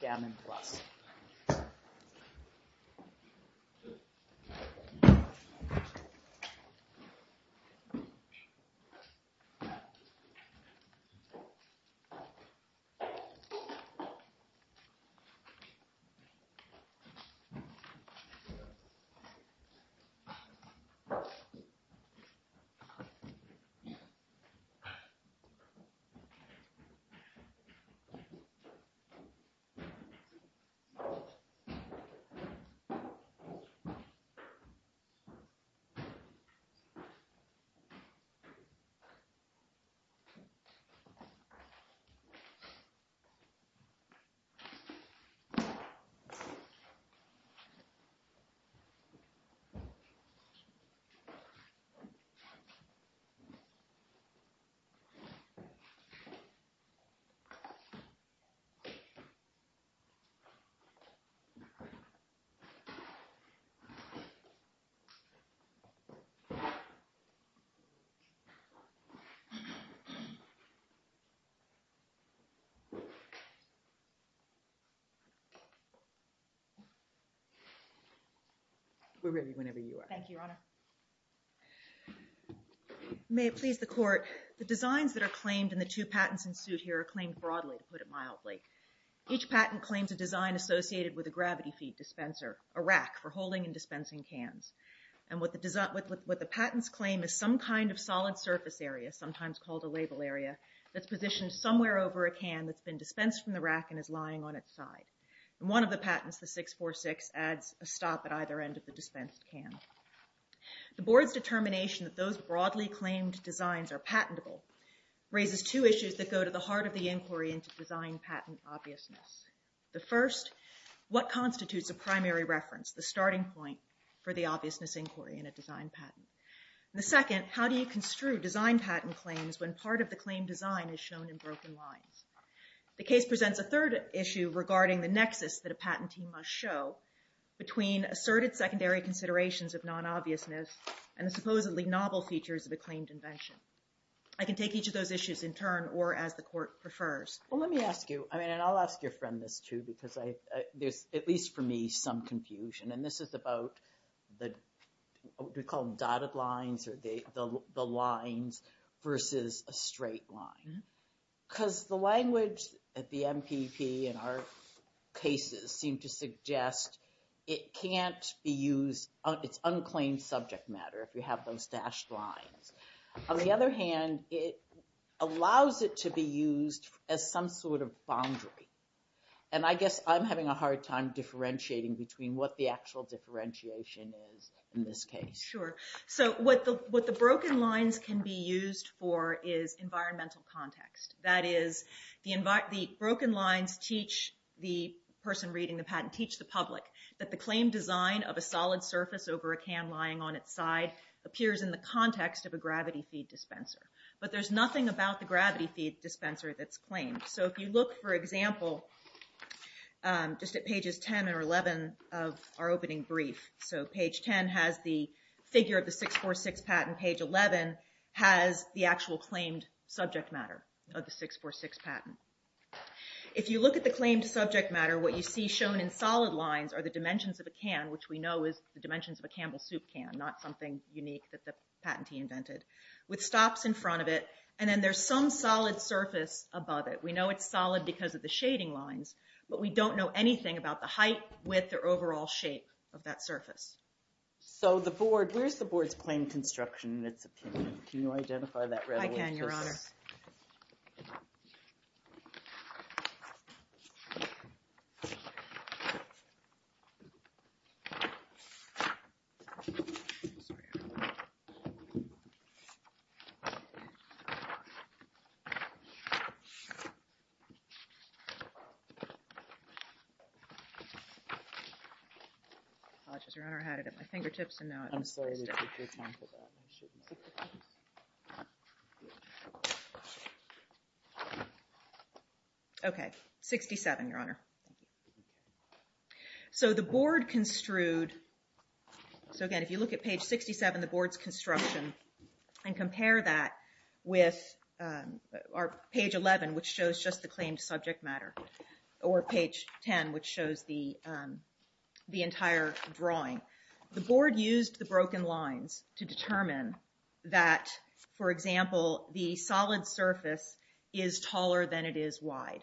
Gamon Plus. We're ready whenever you are. Thank you, Your Honor. May it please the Court, the designs that are claimed in the two patents in suit here are claimed broadly, to put it mildly. Each patent claims a design associated with a gravity feed dispenser, a rack for holding and dispensing cans. And what the patents claim is some kind of solid surface area, sometimes called a label area, that's positioned somewhere over a can that's been dispensed from the rack and is lying on its side. And one of the patents, the 646, adds a stop at either end of the dispensed can. The Board's determination that those broadly claimed designs are patentable raises two The first, what constitutes a primary reference, the starting point for the obviousness inquiry in a design patent? And the second, how do you construe design patent claims when part of the claim design is shown in broken lines? The case presents a third issue regarding the nexus that a patentee must show between asserted secondary considerations of non-obviousness and the supposedly novel features of a claimed invention. I can take each of those issues in turn or as the Court prefers. Well, let me ask you, and I'll ask your friend this too, because there's, at least for me, some confusion. And this is about what we call dotted lines or the lines versus a straight line. Because the language at the MPP in our cases seem to suggest it can't be used, it's unclaimed subject matter if you have those dashed lines. On the other hand, it allows it to be used as some sort of boundary. And I guess I'm having a hard time differentiating between what the actual differentiation is in this case. Sure. So what the broken lines can be used for is environmental context. That is, the broken lines teach the person reading the patent, teach the public, that the claimed is the gravity feed dispenser. But there's nothing about the gravity feed dispenser that's claimed. So if you look, for example, just at pages 10 or 11 of our opening brief. So page 10 has the figure of the 646 patent. Page 11 has the actual claimed subject matter of the 646 patent. If you look at the claimed subject matter, what you see shown in solid lines are the dimensions of a can, which we know is the dimensions of a Campbell soup can, not something unique that the patentee invented, with stops in front of it. And then there's some solid surface above it. We know it's solid because of the shading lines. But we don't know anything about the height, width, or overall shape of that surface. So where's the board's claimed construction in its opinion? Can you identify that readily? I can, Your Honor. I'm sorry, Your Honor. I had it at my fingertips, and now I'm so excited. I'm sorry to take your time for that. OK. 67, Your Honor. So the board construed. is the subject matter of the 646 patent. And compare that with page 11, which shows just the claimed subject matter, or page 10, which shows the entire drawing. The board used the broken lines to determine that, for example, the solid surface is taller than it is wide.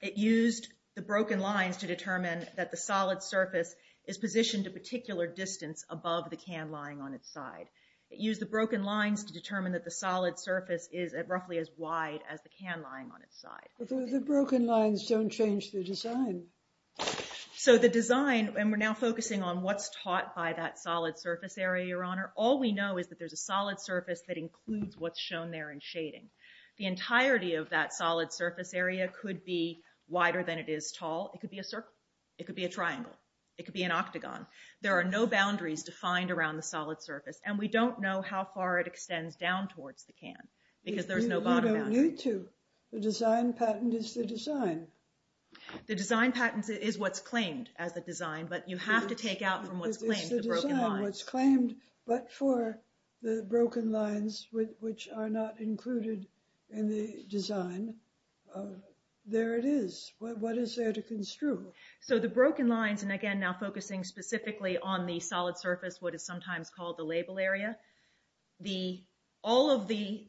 It used the broken lines to determine that the solid surface is positioned a particular distance above the can lying on its side. It used the broken lines to determine that the solid surface is at roughly as wide as the can lying on its side. But the broken lines don't change the design. So the design, and we're now focusing on what's taught by that solid surface area, Your Honor. All we know is that there's a solid surface that includes what's shown there in shading. The entirety of that solid surface area could be wider than it is tall. It could be a circle. It could be a triangle. It could be an octagon. There are no boundaries defined around the solid surface, and we don't know how far it extends down towards the can because there's no bottom boundary. You don't need to. The design patent is the design. The design patent is what's claimed as the design, but you have to take out from what's claimed the broken lines. It's the design, what's claimed, but for the broken lines, which are not included in the design, there it is. What is there to construe? So the broken lines, and, again, now focusing specifically on the solid surface, what is sometimes called the label area, all of the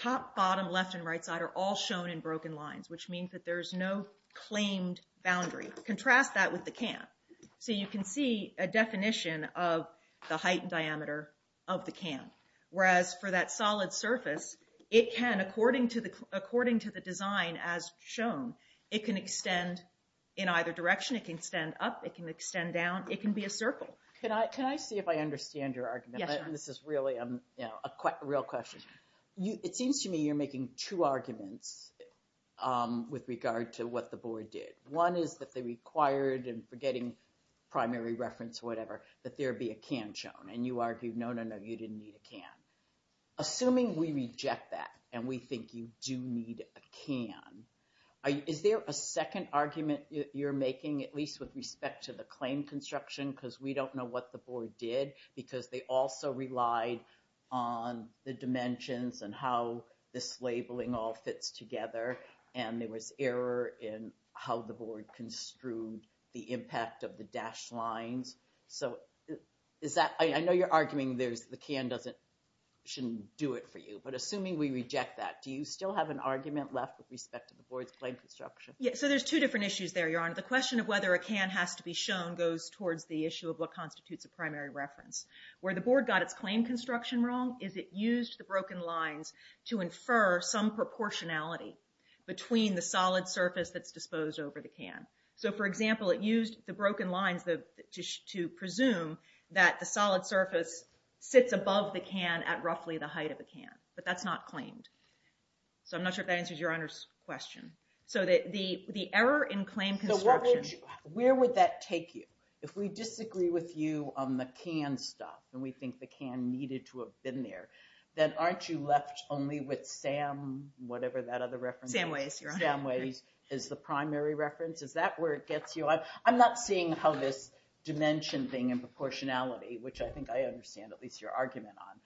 top, bottom, left, and right side are all shown in broken lines, which means that there's no claimed boundary. Contrast that with the can. So you can see a definition of the height and diameter of the can, whereas for that solid surface, it can, according to the design as shown, it can extend in either direction. It can extend up. It can extend down. It can be a circle. Can I see if I understand your argument? Yes, ma'am. This is really a real question. It seems to me you're making two arguments with regard to what the board did. One is that they required, and forgetting primary reference or whatever, that there be a can shown, and you argued, no, no, no, you didn't need a can. Assuming we reject that and we think you do need a can, is there a second argument you're making, at least with respect to the claim construction, because we don't know what the board did, because they also relied on the dimensions and how this labeling all fits together, and there was error in how the board construed the impact of the dashed lines. So I know you're arguing the can shouldn't do it for you, but assuming we reject that, do you still have an argument left with respect to the board's claim construction? Yes, so there's two different issues there, Your Honor. The question of whether a can has to be shown goes towards the issue of what constitutes a primary reference. Where the board got its claim construction wrong is it used the broken lines to infer some proportionality between the solid surface that's disposed over the can. So, for example, it used the broken lines to presume that the solid surface sits above the can at roughly the height of the can, but that's not claimed. So I'm not sure if that answers Your Honor's question. So the error in claim construction... Where would that take you? If we disagree with you on the can stuff, and we think the can needed to have been there, then aren't you left only with SAM, whatever that other reference is? SAM Ways, Your Honor. SAM Ways is the primary reference? Is that where it gets you? I'm not seeing how this dimension thing and proportionality, which I think I understand at least your argument on,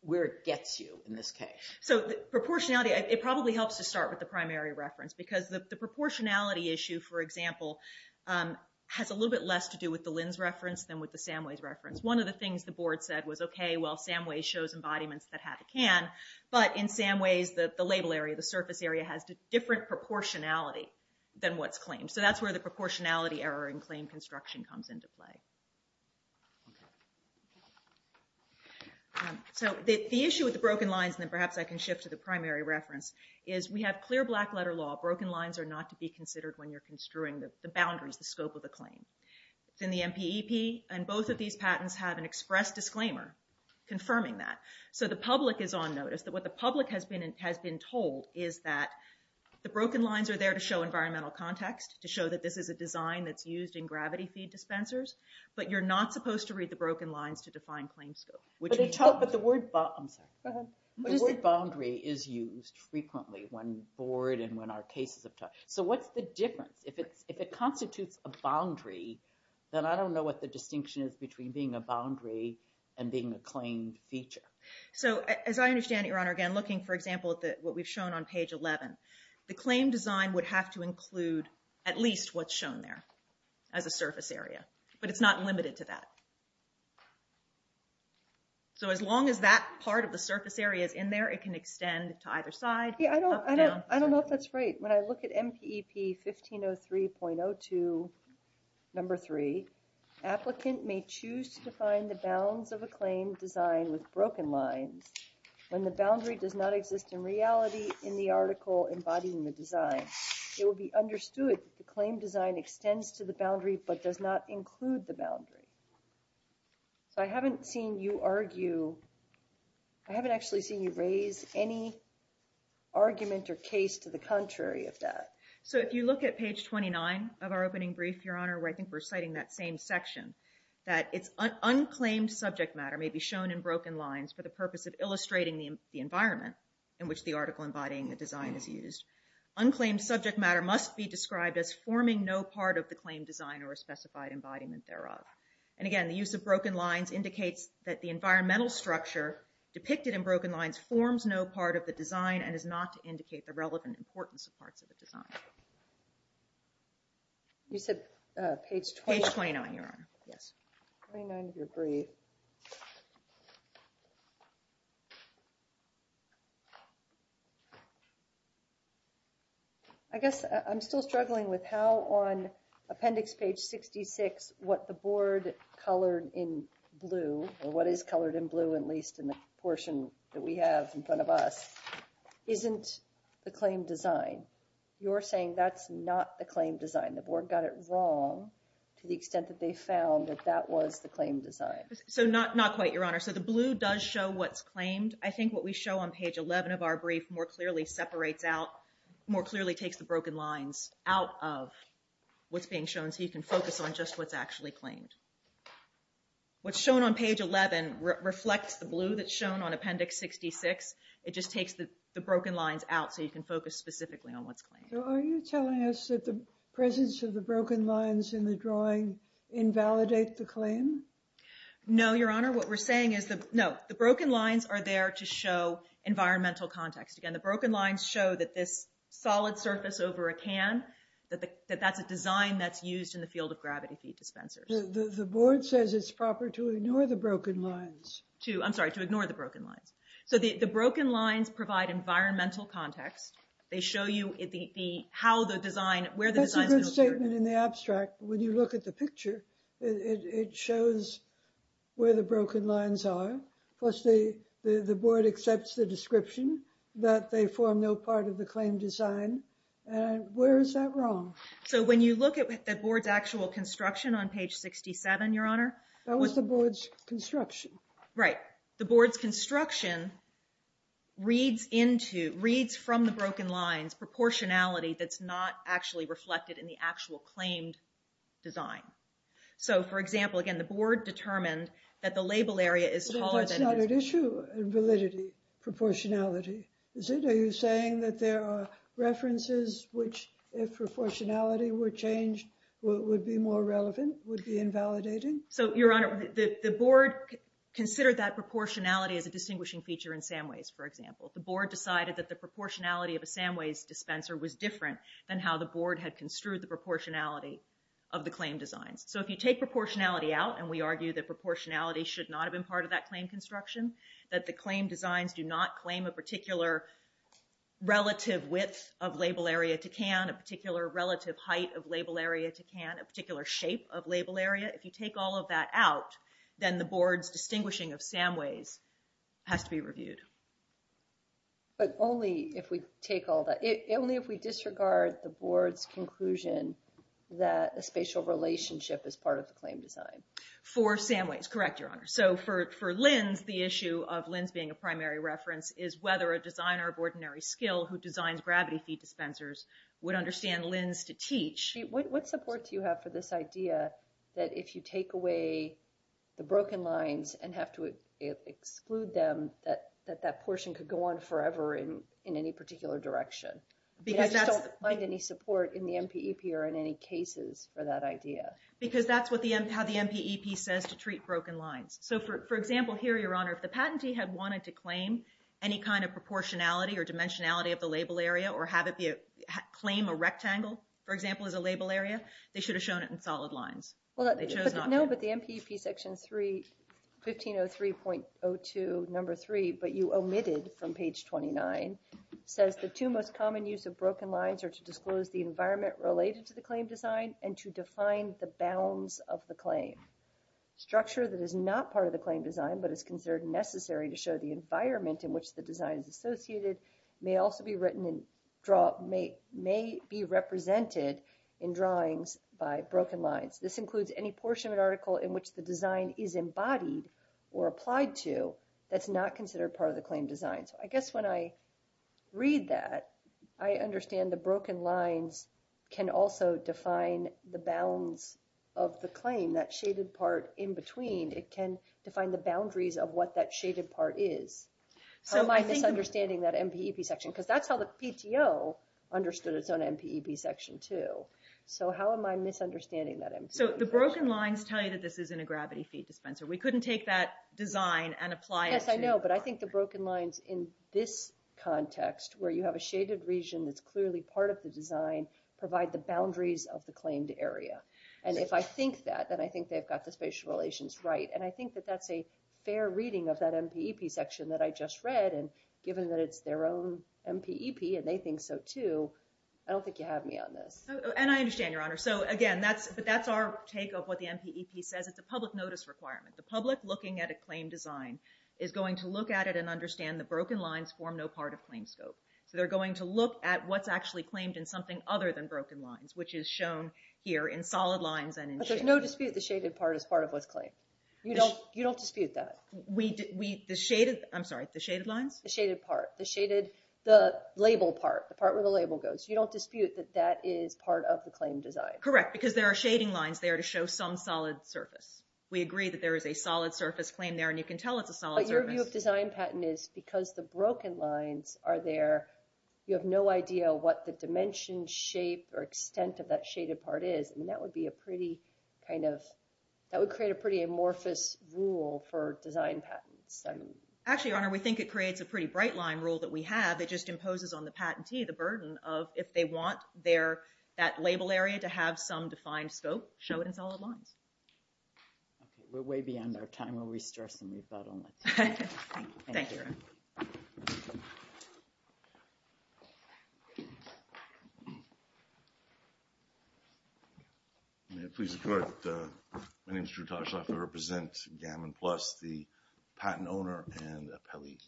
where it gets you in this case. So the proportionality, it probably helps to start with the primary reference because the proportionality issue, for example, has a little bit less to do with the Lynn's reference than with the SAM Ways reference. One of the things the board said was, okay, well, SAM Ways shows embodiments that have a can, but in SAM Ways, the label area, the surface area, has a different proportionality than what's claimed. So that's where the proportionality error in claim construction comes into play. Okay. So the issue with the broken lines, and then perhaps I can shift to the primary reference, is we have clear black-letter law. Broken lines are not to be considered when you're construing the boundaries, the scope of the claim. It's in the MPEP, and both of these patents have an express disclaimer confirming that. So the public is on notice that what the public has been told is that the broken lines are there to show environmental context, to show that this is a design that's used in gravity feed dispensers, but you're not supposed to read the broken lines to define claim scope. But the word... I'm sorry. Go ahead. The word boundary is used frequently when the board and when our cases have talked. So what's the difference? If it constitutes a boundary, then I don't know what the distinction is between being a boundary and being a claimed feature. So as I understand it, Your Honor, again, looking, for example, at what we've shown on page 11, the claim design would have to include at least what's shown there as a surface area. But it's not limited to that. So as long as that part of the surface area is in there, it can extend to either side. Yeah, I don't know if that's right. When I look at MPEP 1503.02, number 3, applicant may choose to define the bounds of a claim design with broken lines when the boundary does not exist in reality in the article embodying the design. It would be understood that the claim design extends to the boundary but does not include the boundary. So I haven't seen you argue... I haven't actually seen you raise any argument or case to the contrary of that. So if you look at page 29 of our opening brief, Your Honor, where I think we're citing that same section, that it's unclaimed subject matter may be shown in broken lines for the purpose of illustrating the environment in which the article embodying the design is used. Unclaimed subject matter must be described as forming no part of the claim design or a specified embodiment thereof. And again, the use of broken lines indicates that the environmental structure depicted in broken lines forms no part of the design and is not to indicate the relevant importance of parts of the design. You said page 29? Page 29, Your Honor, yes. 29 of your brief. Thank you. I guess I'm still struggling with how on appendix page 66 what the board colored in blue, or what is colored in blue at least in the portion that we have in front of us, isn't the claim design. You're saying that's not the claim design. The board got it wrong to the extent that they found that that was the claim design. Not quite, Your Honor. The blue does show what's claimed. I think what we show on page 11 of our brief more clearly separates out, more clearly takes the broken lines out of what's being shown so you can focus on just what's actually claimed. What's shown on page 11 reflects the blue that's shown on appendix 66. It just takes the broken lines out so you can focus specifically on what's claimed. Are you telling us that the presence of the broken lines in the drawing invalidate the claim? No, Your Honor. What we're saying is, no, the broken lines are there to show environmental context. Again, the broken lines show that this solid surface over a can, that that's a design that's used in the field of gravity feed dispensers. The board says it's proper to ignore the broken lines. I'm sorry, to ignore the broken lines. The broken lines provide environmental context. They show you where the design's been occurred. In the abstract, when you look at the picture, it shows where the broken lines are. Plus, the board accepts the description that they form no part of the claim design. Where is that wrong? When you look at the board's actual construction on page 67, Your Honor... That was the board's construction. Right. The board's construction reads from the broken lines proportionality that's not actually reflected in the actual claimed design. So, for example, again, the board determined that the label area is taller than... But that's not an issue in validity, proportionality. Is it? Are you saying that there are references which, if proportionality were changed, would be more relevant, would be invalidating? So, Your Honor, the board considered that proportionality as a distinguishing feature in Samways, for example. The board decided that the proportionality of a Samways dispenser was different than how the board had construed the proportionality of the claim designs. So, if you take proportionality out, and we argue that proportionality should not have been part of that claim construction, that the claim designs do not claim a particular relative width of label area to can, a particular relative height of label area to can, a particular shape of label area, if you take all of that out, then the board's distinguishing of Samways has to be reviewed. But only if we take all that... Only if we disregard the board's conclusion that a spatial relationship is part of the claim design. For Samways, correct, Your Honor. So, for Lins, the issue of Lins being a primary reference is whether a designer of ordinary skill who designs gravity-feed dispensers would understand Lins to teach. What support do you have for this idea that if you take away the broken lines and have to exclude them, that that portion could go on forever in any particular direction? I just don't find any support in the MPEP or in any cases for that idea. Because that's how the MPEP says to treat broken lines. So, for example, here, Your Honor, if the patentee had wanted to claim any kind of proportionality or dimensionality of the label area or claim a rectangle, for example, as a label area, they should have shown it in solid lines. No, but the MPEP section 3, 1503.02, number 3, but you omitted from page 29, says the two most common use of broken lines are to disclose the environment related to the claim design and to define the bounds of the claim. Structure that is not part of the claim design but is considered necessary to show the environment in which the design is associated may also be represented in drawings by broken lines. This includes any portion of an article in which the design is embodied or applied to that's not considered part of the claim design. So I guess when I read that, I understand the broken lines can also define the bounds of the claim, that shaded part in between. It can define the boundaries of what that shaded part is. How am I misunderstanding that MPEP section? Because that's how the PTO understood its own MPEP section, too. So how am I misunderstanding that MPEP section? So the broken lines tell you that this isn't a gravity feed dispenser. We couldn't take that design and apply it to... Yes, I know, but I think the broken lines in this context, where you have a shaded region that's clearly part of the design, provide the boundaries of the claimed area. And if I think that, then I think they've got the spatial relations right. And I think that that's a fair reading of that MPEP section that I just read. And given that it's their own MPEP, and they think so, too, I don't think you have me on this. And I understand, Your Honor. So again, but that's our take of what the MPEP says. It's a public notice requirement. The public, looking at a claim design, is going to look at it and understand the broken lines form no part of claim scope. So they're going to look at what's actually claimed in something other than broken lines, which is shown here in solid lines and in shaded. But there's no dispute the shaded part is part of what's claimed. You don't dispute that. The shaded... I'm sorry, the shaded lines? The shaded part. The shaded... the label part. The part where the label goes. You don't dispute that that is part of the claim design. Correct, because there are shading lines there to show some solid surface. We agree that there is a solid surface claim there, and you can tell it's a solid surface. But your view of design patent is because the broken lines are there, you have no idea what the dimension, shape, or extent of that shaded part is. I mean, that would be a pretty kind of... that would create a pretty amorphous rule for design patents. Actually, Your Honor, we think it creates a pretty bright line rule that we have. It just imposes on the patentee the burden of if they want that label area to have some defined scope, show it in solid lines. We're way beyond our time. We'll restore some rebuttal next time. Thank you. Thank you, Your Honor. May it please the Court. My name is Drew Toshler. I represent Gammon Plus, the patent owner and appellee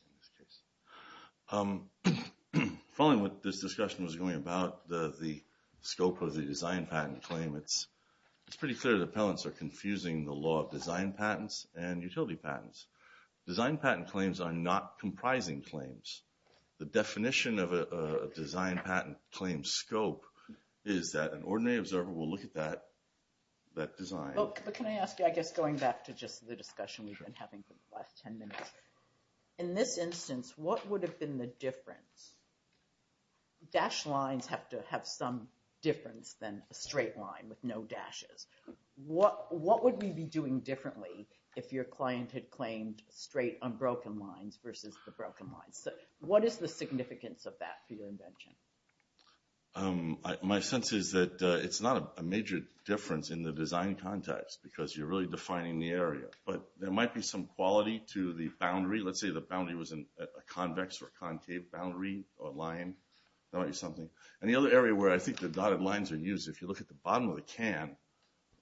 in this case. Following what this discussion was going about, the scope of the design patent claim, it's pretty clear that appellants are confusing the law of design patents and utility patents. Design patent claims are not comprising claims. The definition of a design patent claim scope is that an ordinary observer will look at that design... But can I ask you, I guess, going back to just the discussion we've been having for the last 10 minutes, in this instance, what would have been the difference? Dash lines have to have some difference than a straight line with no dashes. What would we be doing differently if your client had claimed straight, unbroken lines versus the broken lines? What is the significance of that for your invention? My sense is that it's not a major difference in the design context, But there might be some quality to the boundary. Let's say the boundary was a convex or concave boundary or line, that might be something. And the other area where I think the dotted lines are used, if you look at the bottom of the can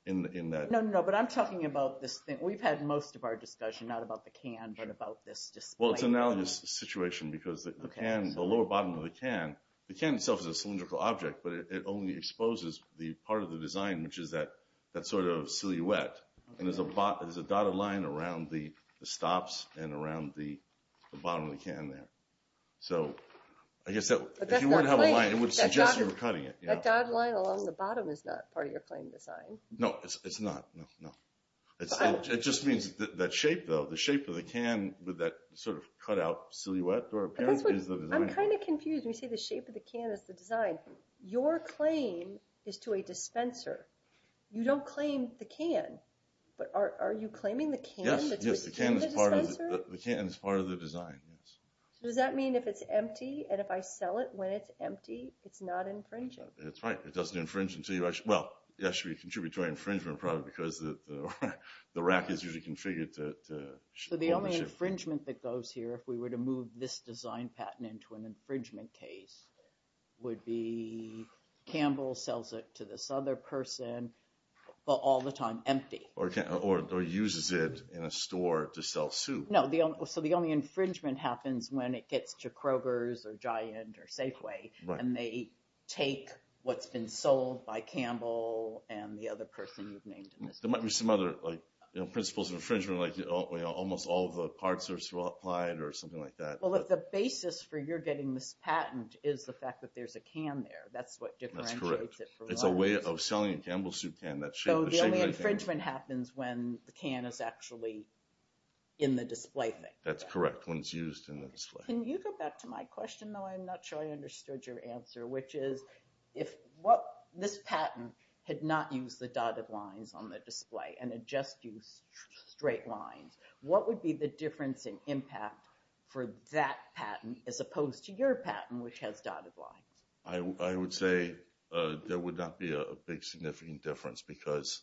in that... No, no, no, but I'm talking about this thing. We've had most of our discussion not about the can but about this display. Well, it's an analogous situation because the lower bottom of the can, the can itself is a cylindrical object, but it only exposes the part of the design which is that sort of silhouette. And there's a dotted line around the stops and around the bottom of the can there. So I guess if you want to have a line, it would suggest you were cutting it. That dotted line along the bottom is not part of your claim design. No, it's not, no, no. It just means that shape, though, the shape of the can with that sort of cut-out silhouette or appearance is the design. I'm kind of confused. We say the shape of the can is the design. You don't claim the can. But are you claiming the can that's within the dispenser? Yes, the can is part of the design. So does that mean if it's empty and if I sell it when it's empty, it's not infringing? That's right. It doesn't infringe until you... Well, it should be a contributory infringement probably because the rack is usually configured to... So the only infringement that goes here if we were to move this design patent into an infringement case would be Campbell sells it to this other person but all the time empty. Or uses it in a store to sell soup. No, so the only infringement happens when it gets to Kroger's or Giant or Safeway and they take what's been sold by Campbell and the other person you've named in this case. There might be some other principles of infringement like almost all of the parts are supplied or something like that. Well, the basis for your getting this patent is the fact that there's a can there. That's what differentiates it from... That's correct. It's a way of selling a Campbell soup can, that shape of the can. So the infringement happens when the can is actually in the display thing. That's correct, when it's used in the display. Can you go back to my question though I'm not sure I understood your answer which is if this patent had not used the dotted lines on the display and had just used straight lines, what would be the difference in impact for that patent as opposed to your patent which has dotted lines? I would say there would not be a big significant difference because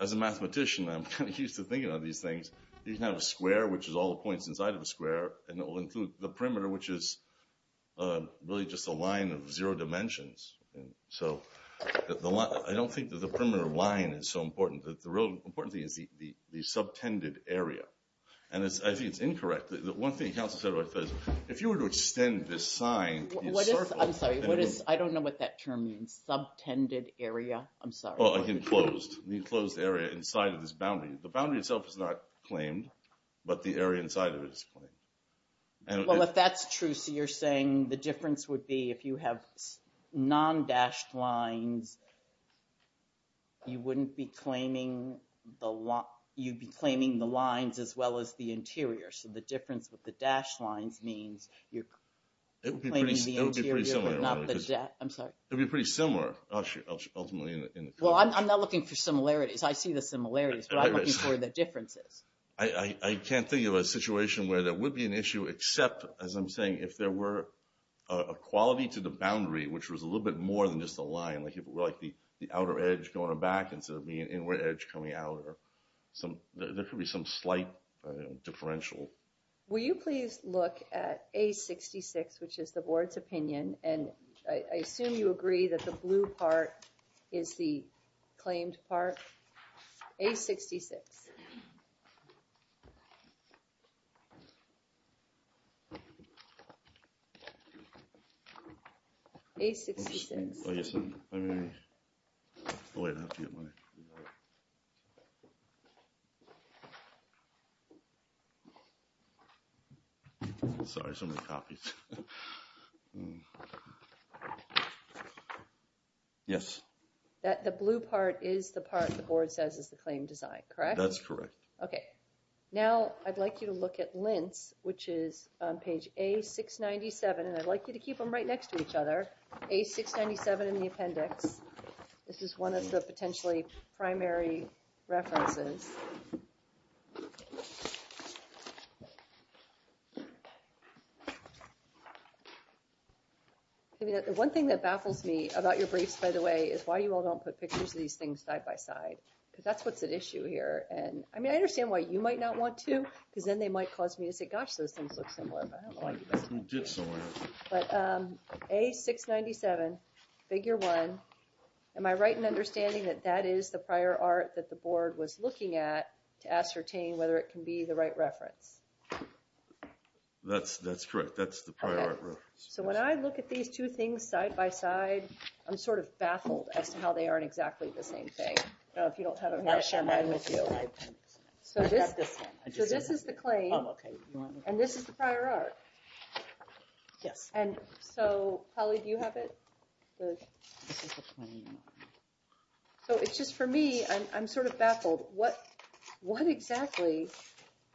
as a mathematician, I'm kind of used to thinking of these things. You can have a square which is all the points inside of a square and it will include the perimeter which is really just a line of zero dimensions. So I don't think that the perimeter line is so important. The real important thing is the subtended area and I think it's incorrect. The one thing council said was if you were to extend this sign... I'm sorry, I don't know what that term means, subtended area. I'm sorry. Enclosed. The enclosed area inside of this boundary. The boundary itself is not claimed but the area inside of it is claimed. Well, if that's true, so you're saying the difference would be if you have non-dashed lines, you wouldn't be claiming the lines as well as the interior. So the difference with the dashed lines means you're claiming the interior but not the dash. I'm sorry. It would be pretty similar ultimately. Well, I'm not looking for similarities. I see the similarities but I'm looking for the differences. I can't think of a situation where there would be an issue except, as I'm saying, if there were a quality to the boundary which was a little bit more than just a line like the outer edge going back instead of the inward edge coming out or there could be some slight differential. Will you please look at A66 which is the board's opinion and I assume you agree that the blue part is the claimed part. A66. A66. Sorry, somebody copied. Yes. The blue part is the part the board says is the claimed design, correct? That's correct. Okay. Now I'd like you to look at Lintz which is on page A697 and I'd like you to keep them right next to each other. A697 in the appendix. This is one of the potentially primary references. The one thing that baffles me about your briefs by the way is why you all don't put pictures of these things side by side because that's what's at issue here and I mean I understand why you might not want to because then they might cause me to say gosh those things look similar but I don't like this. But A697 figure one. Am I right in understanding that that is the prior art that the board was looking at to ascertain whether it can be the right reference? That's correct. That's the prior art reference. So when I look at these two things side by side I'm sort of baffled as to how they aren't exactly the same thing. I don't know if you don't have them here. I'll share mine with you. So this is the claim and this is the prior art. Yes. And so Polly do you have it? This is the claim. So it's just for me I'm sort of baffled. What exactly,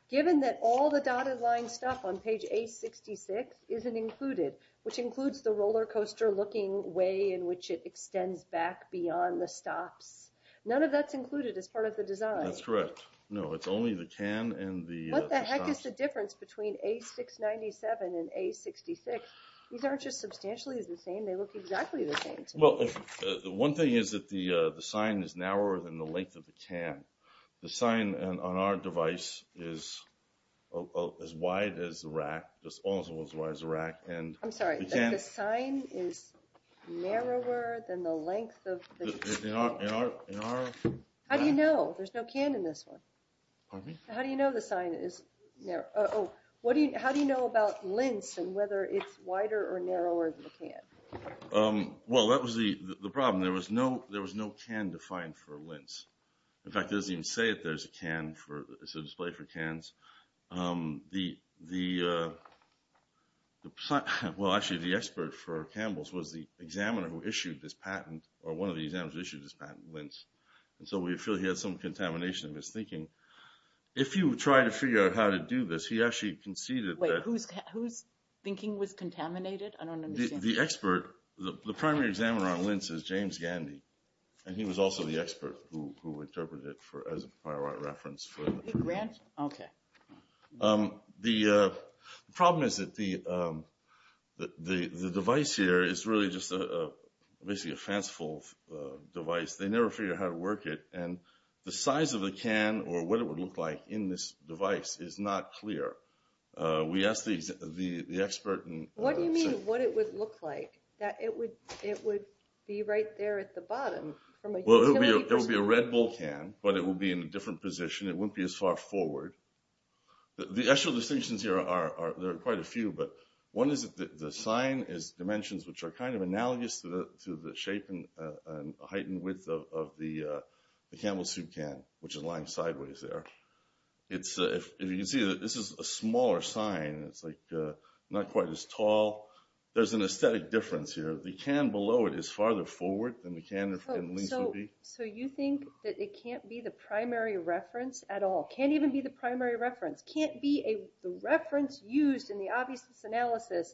given that all the dotted line stuff on page A66 isn't included, which includes the roller coaster looking way in which it extends back beyond the stops. None of that's included as part of the design. That's correct. No, it's only the can and the stops. What the heck is the difference between A697 and A66? These aren't just substantially the same. They look exactly the same to me. One thing is that the sign is narrower than the length of the can. The sign on our device is as wide as the rack. I'm sorry. The sign is narrower than the length of the can? In our... How do you know? There's no can in this one. Pardon me? How do you know the sign is narrow? How do you know about lint and whether it's wider or narrower than the can? Well, that was the problem. There was no can defined for lint. In fact, it doesn't even say that there's a can. It's a display for cans. The... Well, actually, the expert for Campbell's was the examiner who issued this patent, or one of the examiners who issued this patent, Lintz. So we feel he had some contamination of his thinking. If you try to figure out how to do this, he actually conceded that... Wait, whose thinking was contaminated? I don't understand. The expert, the primary examiner on lint is James Gandy, and he was also the expert who interpreted it as a by-right reference for... Okay. The problem is that the device here is really just basically a fanciful device. They never figured out how to work it, and the size of the can or what it would look like in this device is not clear. We asked the expert... What do you mean, what it would look like? It would be right there at the bottom. There would be a Red Bull can, but it would be in a different position. It wouldn't be as far forward. The actual distinctions here are... There are quite a few, but one is that the sign is dimensions which are kind of analogous to the shape and height and width of the Camel Soup can, which is lying sideways there. If you can see, this is a smaller sign. It's not quite as tall. There's an aesthetic difference here. The can below it is farther forward than the can in Lintz would be. So you think that it can't be the primary reference at all, can't even be the primary reference, can't be the reference used in the obviousness analysis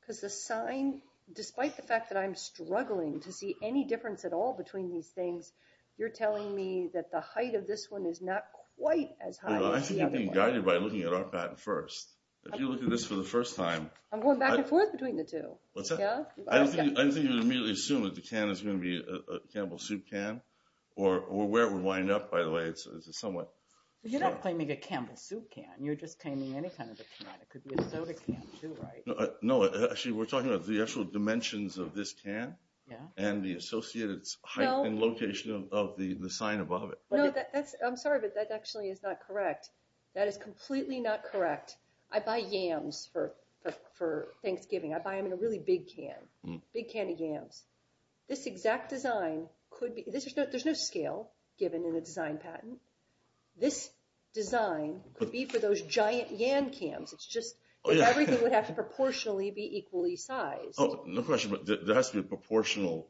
because the sign, despite the fact that I'm struggling to see any difference at all between these things, you're telling me that the height of this one is not quite as high as the other one. I think you're being guided by looking at our patent first. If you look at this for the first time... I'm going back and forth between the two. I don't think you can immediately assume that the can is going to be a Camel Soup can, or where it would wind up, by the way. You're not claiming a Camel Soup can. You're just claiming any kind of a can. It could be a soda can, too, right? No, actually, we're talking about the actual dimensions of this can and the associated height and location of the sign above it. No, I'm sorry, but that actually is not correct. That is completely not correct. I buy yams for Thanksgiving. I buy them in a really big can, big can of yams. This exact design could be... There's no scale given in a design patent. This design could be for those giant yam cans. It's just that everything would have to proportionally be equally sized. No question, but there has to be a proportional...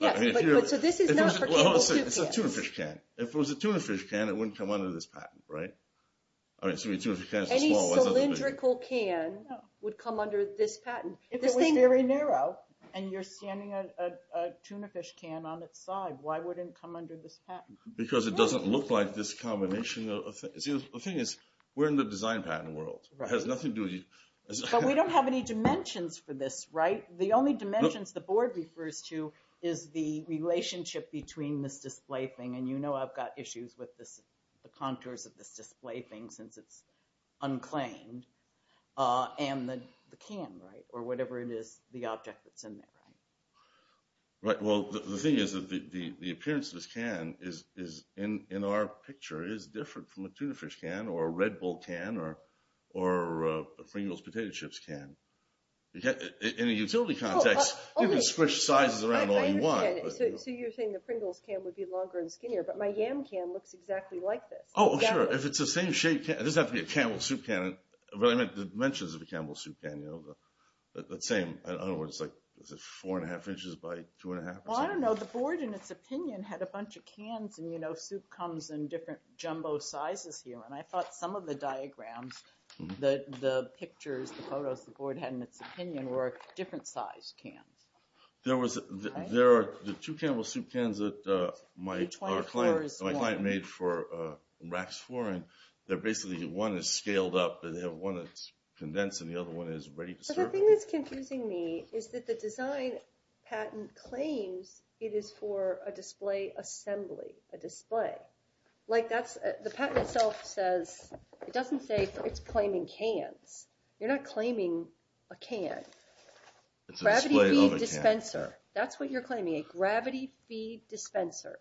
So this is not for Camel Soup cans. It's a tuna fish can. If it was a tuna fish can, it wouldn't come under this patent, right? Any cylindrical can would come under this patent. If it was very narrow and you're standing a tuna fish can on its side, why wouldn't it come under this patent? Because it doesn't look like this combination of things. The thing is, we're in the design patent world. It has nothing to do with you. But we don't have any dimensions for this, right? The only dimensions the board refers to is the relationship between this display thing, and you know I've got issues with the contours of this display thing since it's unclaimed, and the can, right? Or whatever it is, the object that's in there, right? Right. Well, the thing is that the appearance of this can is, in our picture, is different from a tuna fish can or a Red Bull can or a Pringles potato chips can. In a utility context, you can squish sizes around all you want. I understand. So you're saying the Pringles can would be longer and skinnier, but my yam can looks exactly like this. Oh, sure. If it's the same shape, it doesn't have to be a Campbell's Soup can, but I meant the dimensions of a Campbell's Soup can, you know, the same, in other words, like 4 1⁄2 inches by 2 1⁄2 inches. Well, I don't know. The board, in its opinion, had a bunch of cans, and, you know, soup comes in different jumbo sizes here. And I thought some of the diagrams, the pictures, the photos, the board had in its opinion were different-sized cans. There are two Campbell's Soup cans that my client made for racks flooring. They're basically, one is scaled up, and they have one that's condensed, and the other one is ready to serve. The thing that's confusing me is that the design patent claims it is for a display assembly, a display. Like, the patent itself says, it doesn't say it's claiming cans. You're not claiming a can. It's a display of a can. Gravity-feed dispenser. That's what you're claiming, a gravity-feed dispenser.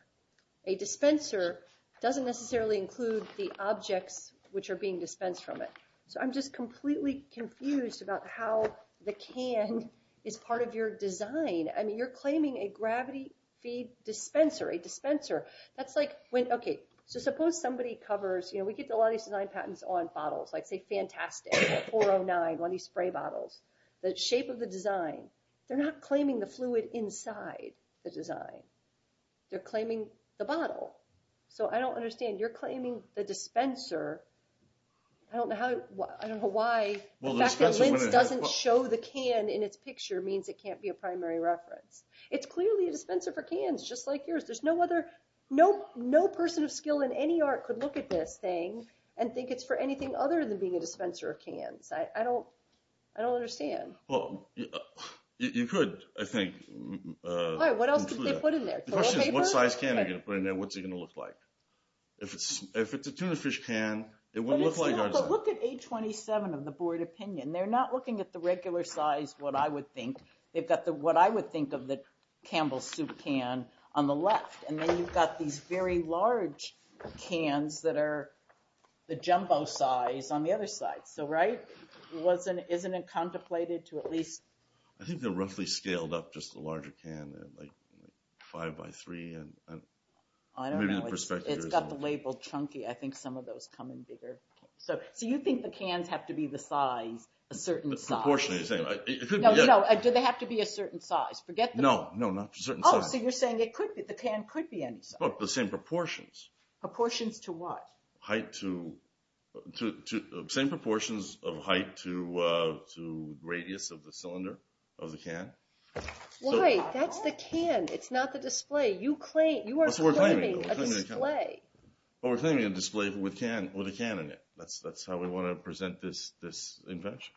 A dispenser doesn't necessarily include the objects which are being dispensed from it. So I'm just completely confused about how the can is part of your design. I mean, you're claiming a gravity-feed dispenser, a dispenser. That's like when, okay, so suppose somebody covers, you know, we get a lot of these design patents on bottles, like, say, Fantastic, 409, one of these spray bottles, They're not claiming the fluid inside the design. They're claiming the bottle. So I don't understand. You're claiming the dispenser. I don't know how, I don't know why the fact that Linz doesn't show the can in its picture means it can't be a primary reference. It's clearly a dispenser for cans, just like yours. There's no other, no person of skill in any art could look at this thing and think it's for anything other than being a dispenser of cans. I don't understand. You could, I think. All right, what else did they put in there? The question is, what size can are you going to put in there? What's it going to look like? If it's a tuna fish can, it wouldn't look like artisan. But look at 827 of the board opinion. They're not looking at the regular size, what I would think. They've got what I would think of the Campbell's Soup can on the left. And then you've got these very large cans that are the jumbo size on the other side. So, right? Isn't it contemplated to at least… I think they're roughly scaled up, just the larger can, like five by three. I don't know. It's got the label chunky. I think some of those come in bigger. So you think the cans have to be the size, a certain size. Proportionally the same. No, no, do they have to be a certain size? Forget the… No, no, not a certain size. Oh, so you're saying the can could be any size. But the same proportions. Proportions to what? Height to… Same proportions of height to radius of the cylinder of the can. Why? That's the can. It's not the display. You are claiming a display. We're claiming a display with a can in it. That's how we want to present this invention.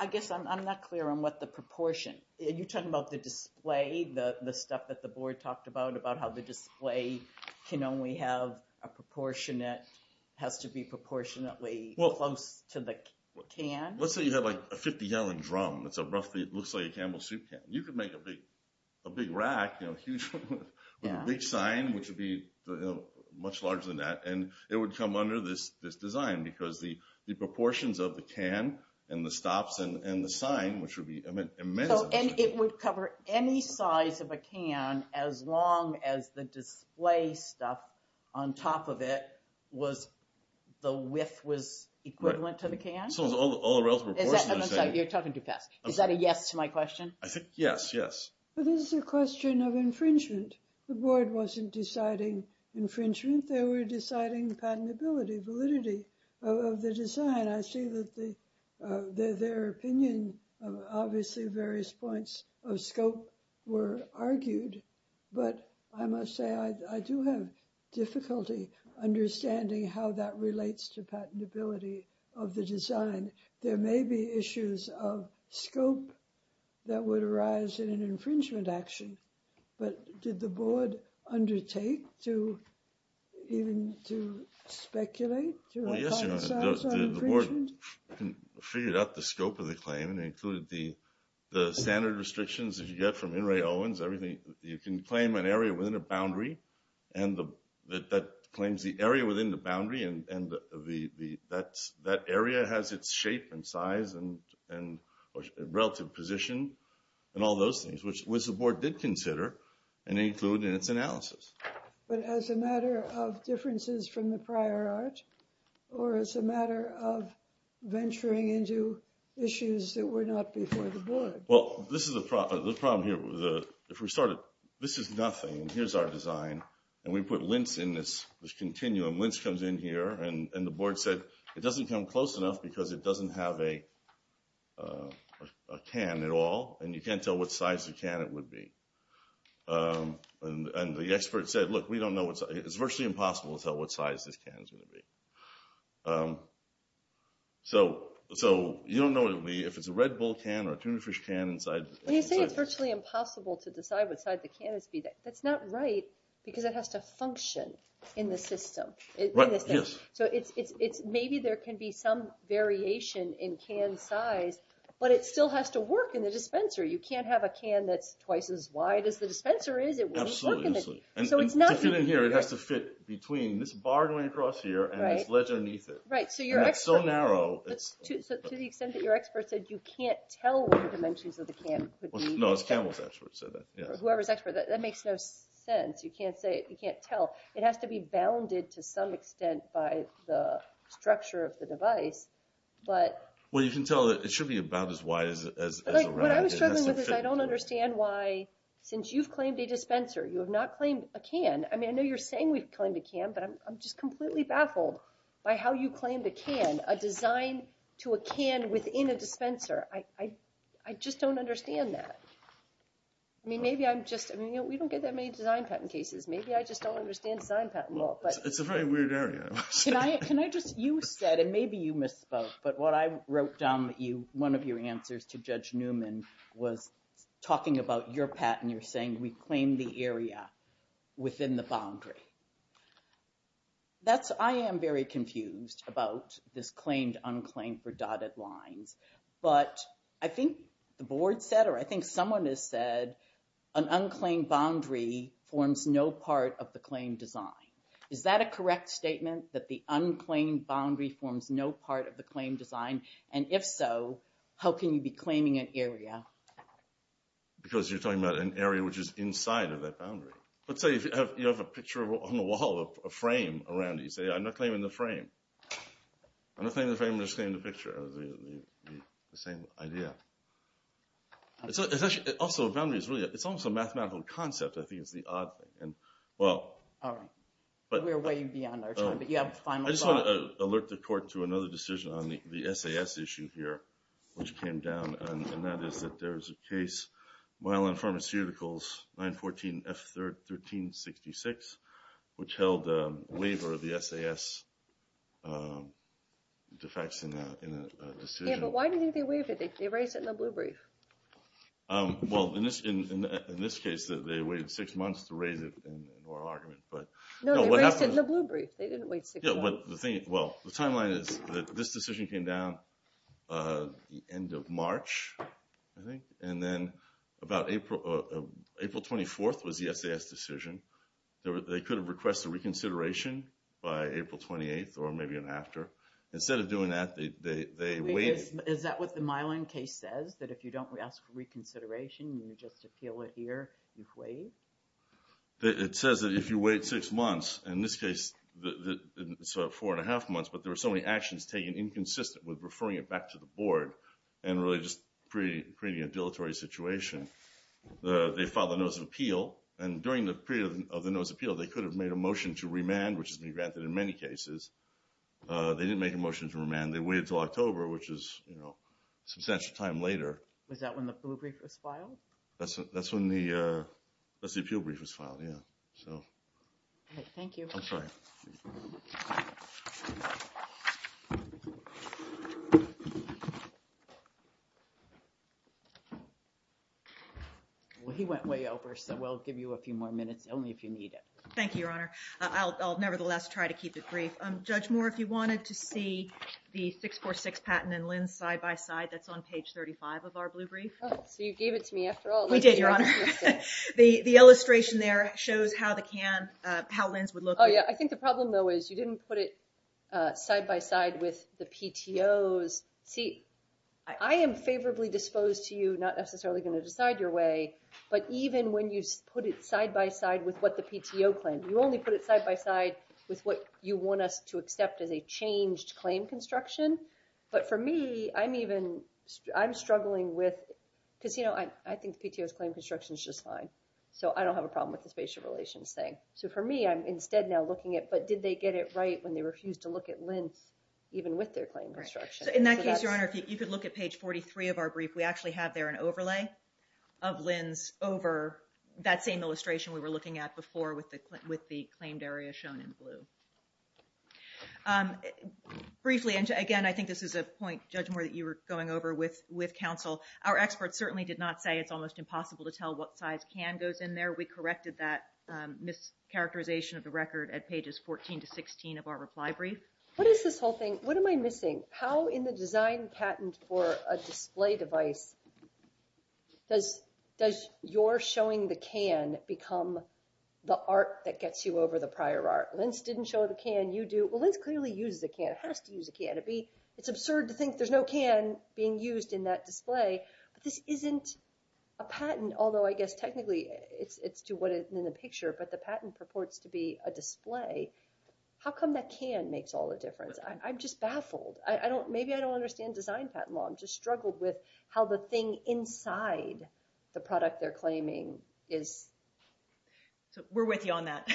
I guess I'm not clear on what the proportion. You're talking about the display, the stuff that the board talked about, how the display can only have a proportionate, has to be proportionately close to the can. Let's say you have a 50-gallon drum that looks like a Camel Soup can. You could make a big rack with a big sign, which would be much larger than that, and it would come under this design because the proportions of the can and the stops and the sign, which would be immense. It would cover any size of a can as long as the display stuff on top of it was the width was equivalent to the can? All the relative proportions. You're talking too fast. Is that a yes to my question? Yes, yes. This is a question of infringement. The board wasn't deciding infringement. They were deciding patentability, validity of the design. I see that their opinion, obviously, various points of scope were argued, but I must say I do have difficulty understanding how that relates to patentability of the design. There may be issues of scope that would arise in an infringement action, but did the board undertake to speculate? Well, yes, Your Honor. The board figured out the scope of the claim and included the standard restrictions that you get from In re Owens. You can claim an area within a boundary, and that claims the area within the boundary, and that area has its shape and size and relative position and all those things, which the board did consider and included in its analysis. But as a matter of differences from the prior art or as a matter of venturing into issues that were not before the board? Well, this is the problem here. If we started, this is nothing, and here's our design, and we put lint in this continuum. Lint comes in here, and the board said it doesn't come close enough because it doesn't have a can at all, and you can't tell what size the can it would be. And the expert said, look, we don't know. It's virtually impossible to tell what size this can is going to be. So you don't know if it's a red bull can or a tuna fish can inside. When you say it's virtually impossible to decide what size the can is, that's not right because it has to function in the system. Right, yes. So maybe there can be some variation in can size, but it still has to work in the dispenser. You can't have a can that's twice as wide as the dispenser is. Absolutely. To fit in here, it has to fit between this bar going across here and this ledge underneath it. Right, so to the extent that your expert said you can't tell what the dimensions of the can would be. No, it's Campbell's expert who said that. Whoever's expert. That makes no sense. You can't tell. It has to be bounded to some extent by the structure of the device. Well, you can tell that it should be about as wide as a round. What I was struggling with is I don't understand why, since you've claimed a dispenser, you have not claimed a can. I mean, I know you're saying we've claimed a can, but I'm just completely baffled by how you claimed a can, a design to a can within a dispenser. I just don't understand that. I mean, maybe I'm just, we don't get that many design patent cases. Maybe I just don't understand design patent law. It's a very weird area. Can I just, you said, and maybe you misspoke, but what I wrote down that you, one of your answers to Judge Newman was talking about your patent. You're saying we claim the area within the boundary. That's, I am very confused about this claimed unclaimed for dotted lines, but I think the board said, or I think someone has said an unclaimed boundary forms no part of the claim design. Is that a correct statement that the unclaimed boundary forms no part of the claim design? And if so, how can you be claiming an area? Because you're talking about an area which is inside of that boundary. Let's say you have a picture on the wall of a frame around it. You say, I'm not claiming the frame. I'm not claiming the frame, I'm just claiming the picture. The same idea. Also, a boundary is really, it's almost a mathematical concept. I think it's the odd thing. All right. We're way beyond our time, but you have a final thought. I just want to alert the court to another decision on the SAS issue here, which came down, and that is that there is a case, Myelin Pharmaceuticals 914F1366, which held a waiver of the SAS defects in a decision. Yeah, but why do you think they waived it? They raised it in the blue brief. Well, in this case, they waived six months to raise it in oral argument. No, they raised it in the blue brief. They didn't waive six months. Well, the timeline is that this decision came down the end of March, I think, and then about April 24th was the SAS decision. They could have requested reconsideration by April 28th or maybe an after. Instead of doing that, they waived. Is that what the Myelin case says, that if you don't ask for reconsideration, you just appeal it here, you waive? It says that if you wait six months. In this case, it's four and a half months, but there were so many actions taken inconsistent with referring it back to the board and really just creating a dilatory situation. They filed a notice of appeal, and during the period of the notice of appeal, they could have made a motion to remand, which has been granted in many cases. They didn't make a motion to remand. They waited until October, which is a substantial time later. Was that when the blue brief was filed? That's when the appeal brief was filed, yeah. Okay, thank you. I'm sorry. Well, he went way over, so we'll give you a few more minutes only if you need it. Thank you, Your Honor. I'll nevertheless try to keep it brief. Judge Moore, if you wanted to see the 646 patent and Lynn's side-by-side, that's on page 35 of our blue brief. So you gave it to me after all. We did, Your Honor. The illustration there shows how Lynn's would look. Oh, yeah. I think the problem, though, is you didn't put it side-by-side with the PTOs. See, I am favorably disposed to you, not necessarily going to decide your way, but even when you put it side-by-side with what the PTO claimed, you only put it side-by-side with what you want us to accept as a changed claim construction. But for me, I'm struggling with – because, you know, I think the PTO's claim construction is just fine, so I don't have a problem with the spatial relations thing. So for me, I'm instead now looking at, but did they get it right when they refused to look at Lynn's, even with their claim construction? In that case, Your Honor, if you could look at page 43 of our brief, we actually have there an overlay of Lynn's over that same illustration we were looking at before with the claimed area shown in blue. Briefly, and again, I think this is a point, Judge Moore, that you were going over with counsel. Our experts certainly did not say it's almost impossible to tell what size can goes in there. We corrected that mischaracterization of the record at pages 14 to 16 of our reply brief. What is this whole thing? What am I missing? How in the design patent for a display device does your showing the can become the art that gets you over the prior art? Lynn's didn't show the can. You do. Well, Lynn's clearly uses a can. It has to use a can. It's absurd to think there's no can being used in that display. This isn't a patent, although I guess technically it's to what is in the picture, but the patent purports to be a display. How come that can makes all the difference? I'm just baffled. Maybe I don't understand design patent law. I'm just struggled with how the thing inside the product they're claiming is. We're with you on that,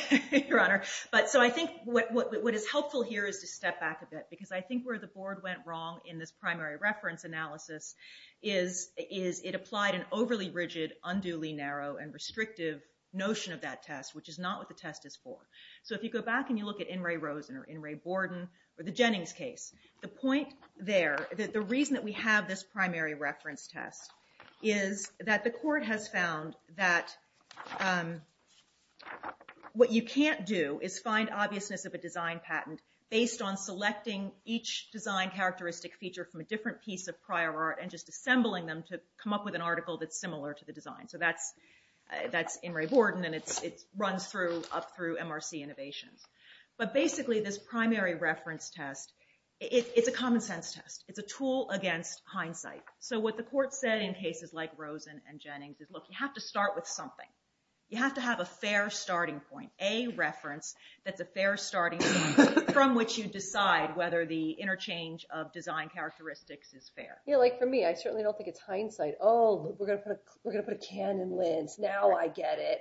Your Honor. I think what is helpful here is to step back a bit because I think where the board went wrong in this primary reference analysis is it applied an overly rigid, unduly narrow, and restrictive notion of that test, which is not what the test is for. If you go back and you look at In re Rosen or In re Borden or the Jennings case, the point there, the reason that we have this primary reference test is that the court has found that what you can't do is find obviousness of a design patent based on selecting each design characteristic feature from a different piece of prior art and just assembling them to come up with an article that's similar to the design. That's In re Borden, and it runs up through MRC Innovations. Basically, this primary reference test, it's a common sense test. It's a tool against hindsight. What the court said in cases like Rosen and Jennings is, look, you have to start with something. You have to have a fair starting point, a reference that's a fair starting point from which you decide whether the interchange of design characteristics is fair. For me, I certainly don't think it's hindsight. Oh, we're going to put a can in Linz. Now I get it.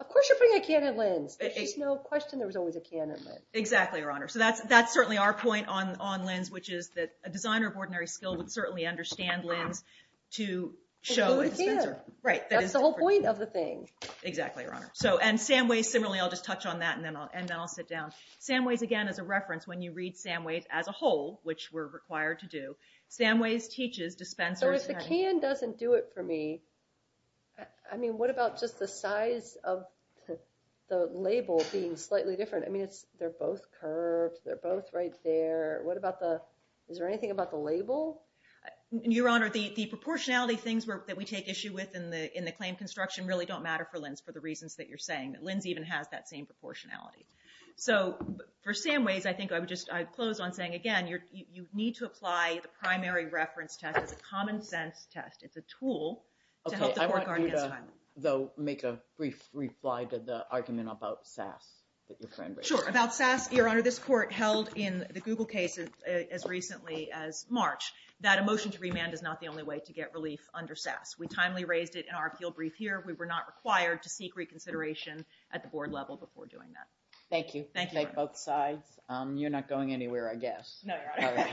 Of course you're putting a can in Linz. There's no question there was always a can in Linz. That's certainly our point on Linz, which is that a designer of ordinary skill would certainly understand Linz to show a dispenser. That's the whole point of the thing. Exactly, Your Honor. And Samways, similarly, I'll just touch on that, and then I'll sit down. Samways, again, is a reference when you read Samways as a whole, which we're required to do. Samways teaches dispensers. So if the can doesn't do it for me, I mean, what about just the size of the label being slightly different? I mean, they're both curved. They're both right there. Is there anything about the label? Your Honor, the proportionality things that we take issue with in the claim construction really don't matter for Linz for the reasons that you're saying. Linz even has that same proportionality. So for Samways, I think I would just close on saying, again, you need to apply the primary reference test as a common-sense test. It's a tool to help the court guard against time. Okay, I want you to, though, make a brief reply to the argument about SAS that your friend raised. Sure, about SAS. Your Honor, this court held in the Google case as recently as March that a motion to remand is not the only way to get relief under SAS. We timely raised it in our appeal brief here. We were not required to seek reconsideration at the board level before doing that. Thank you. Thank both sides. You're not going anywhere, I guess. No, Your Honor.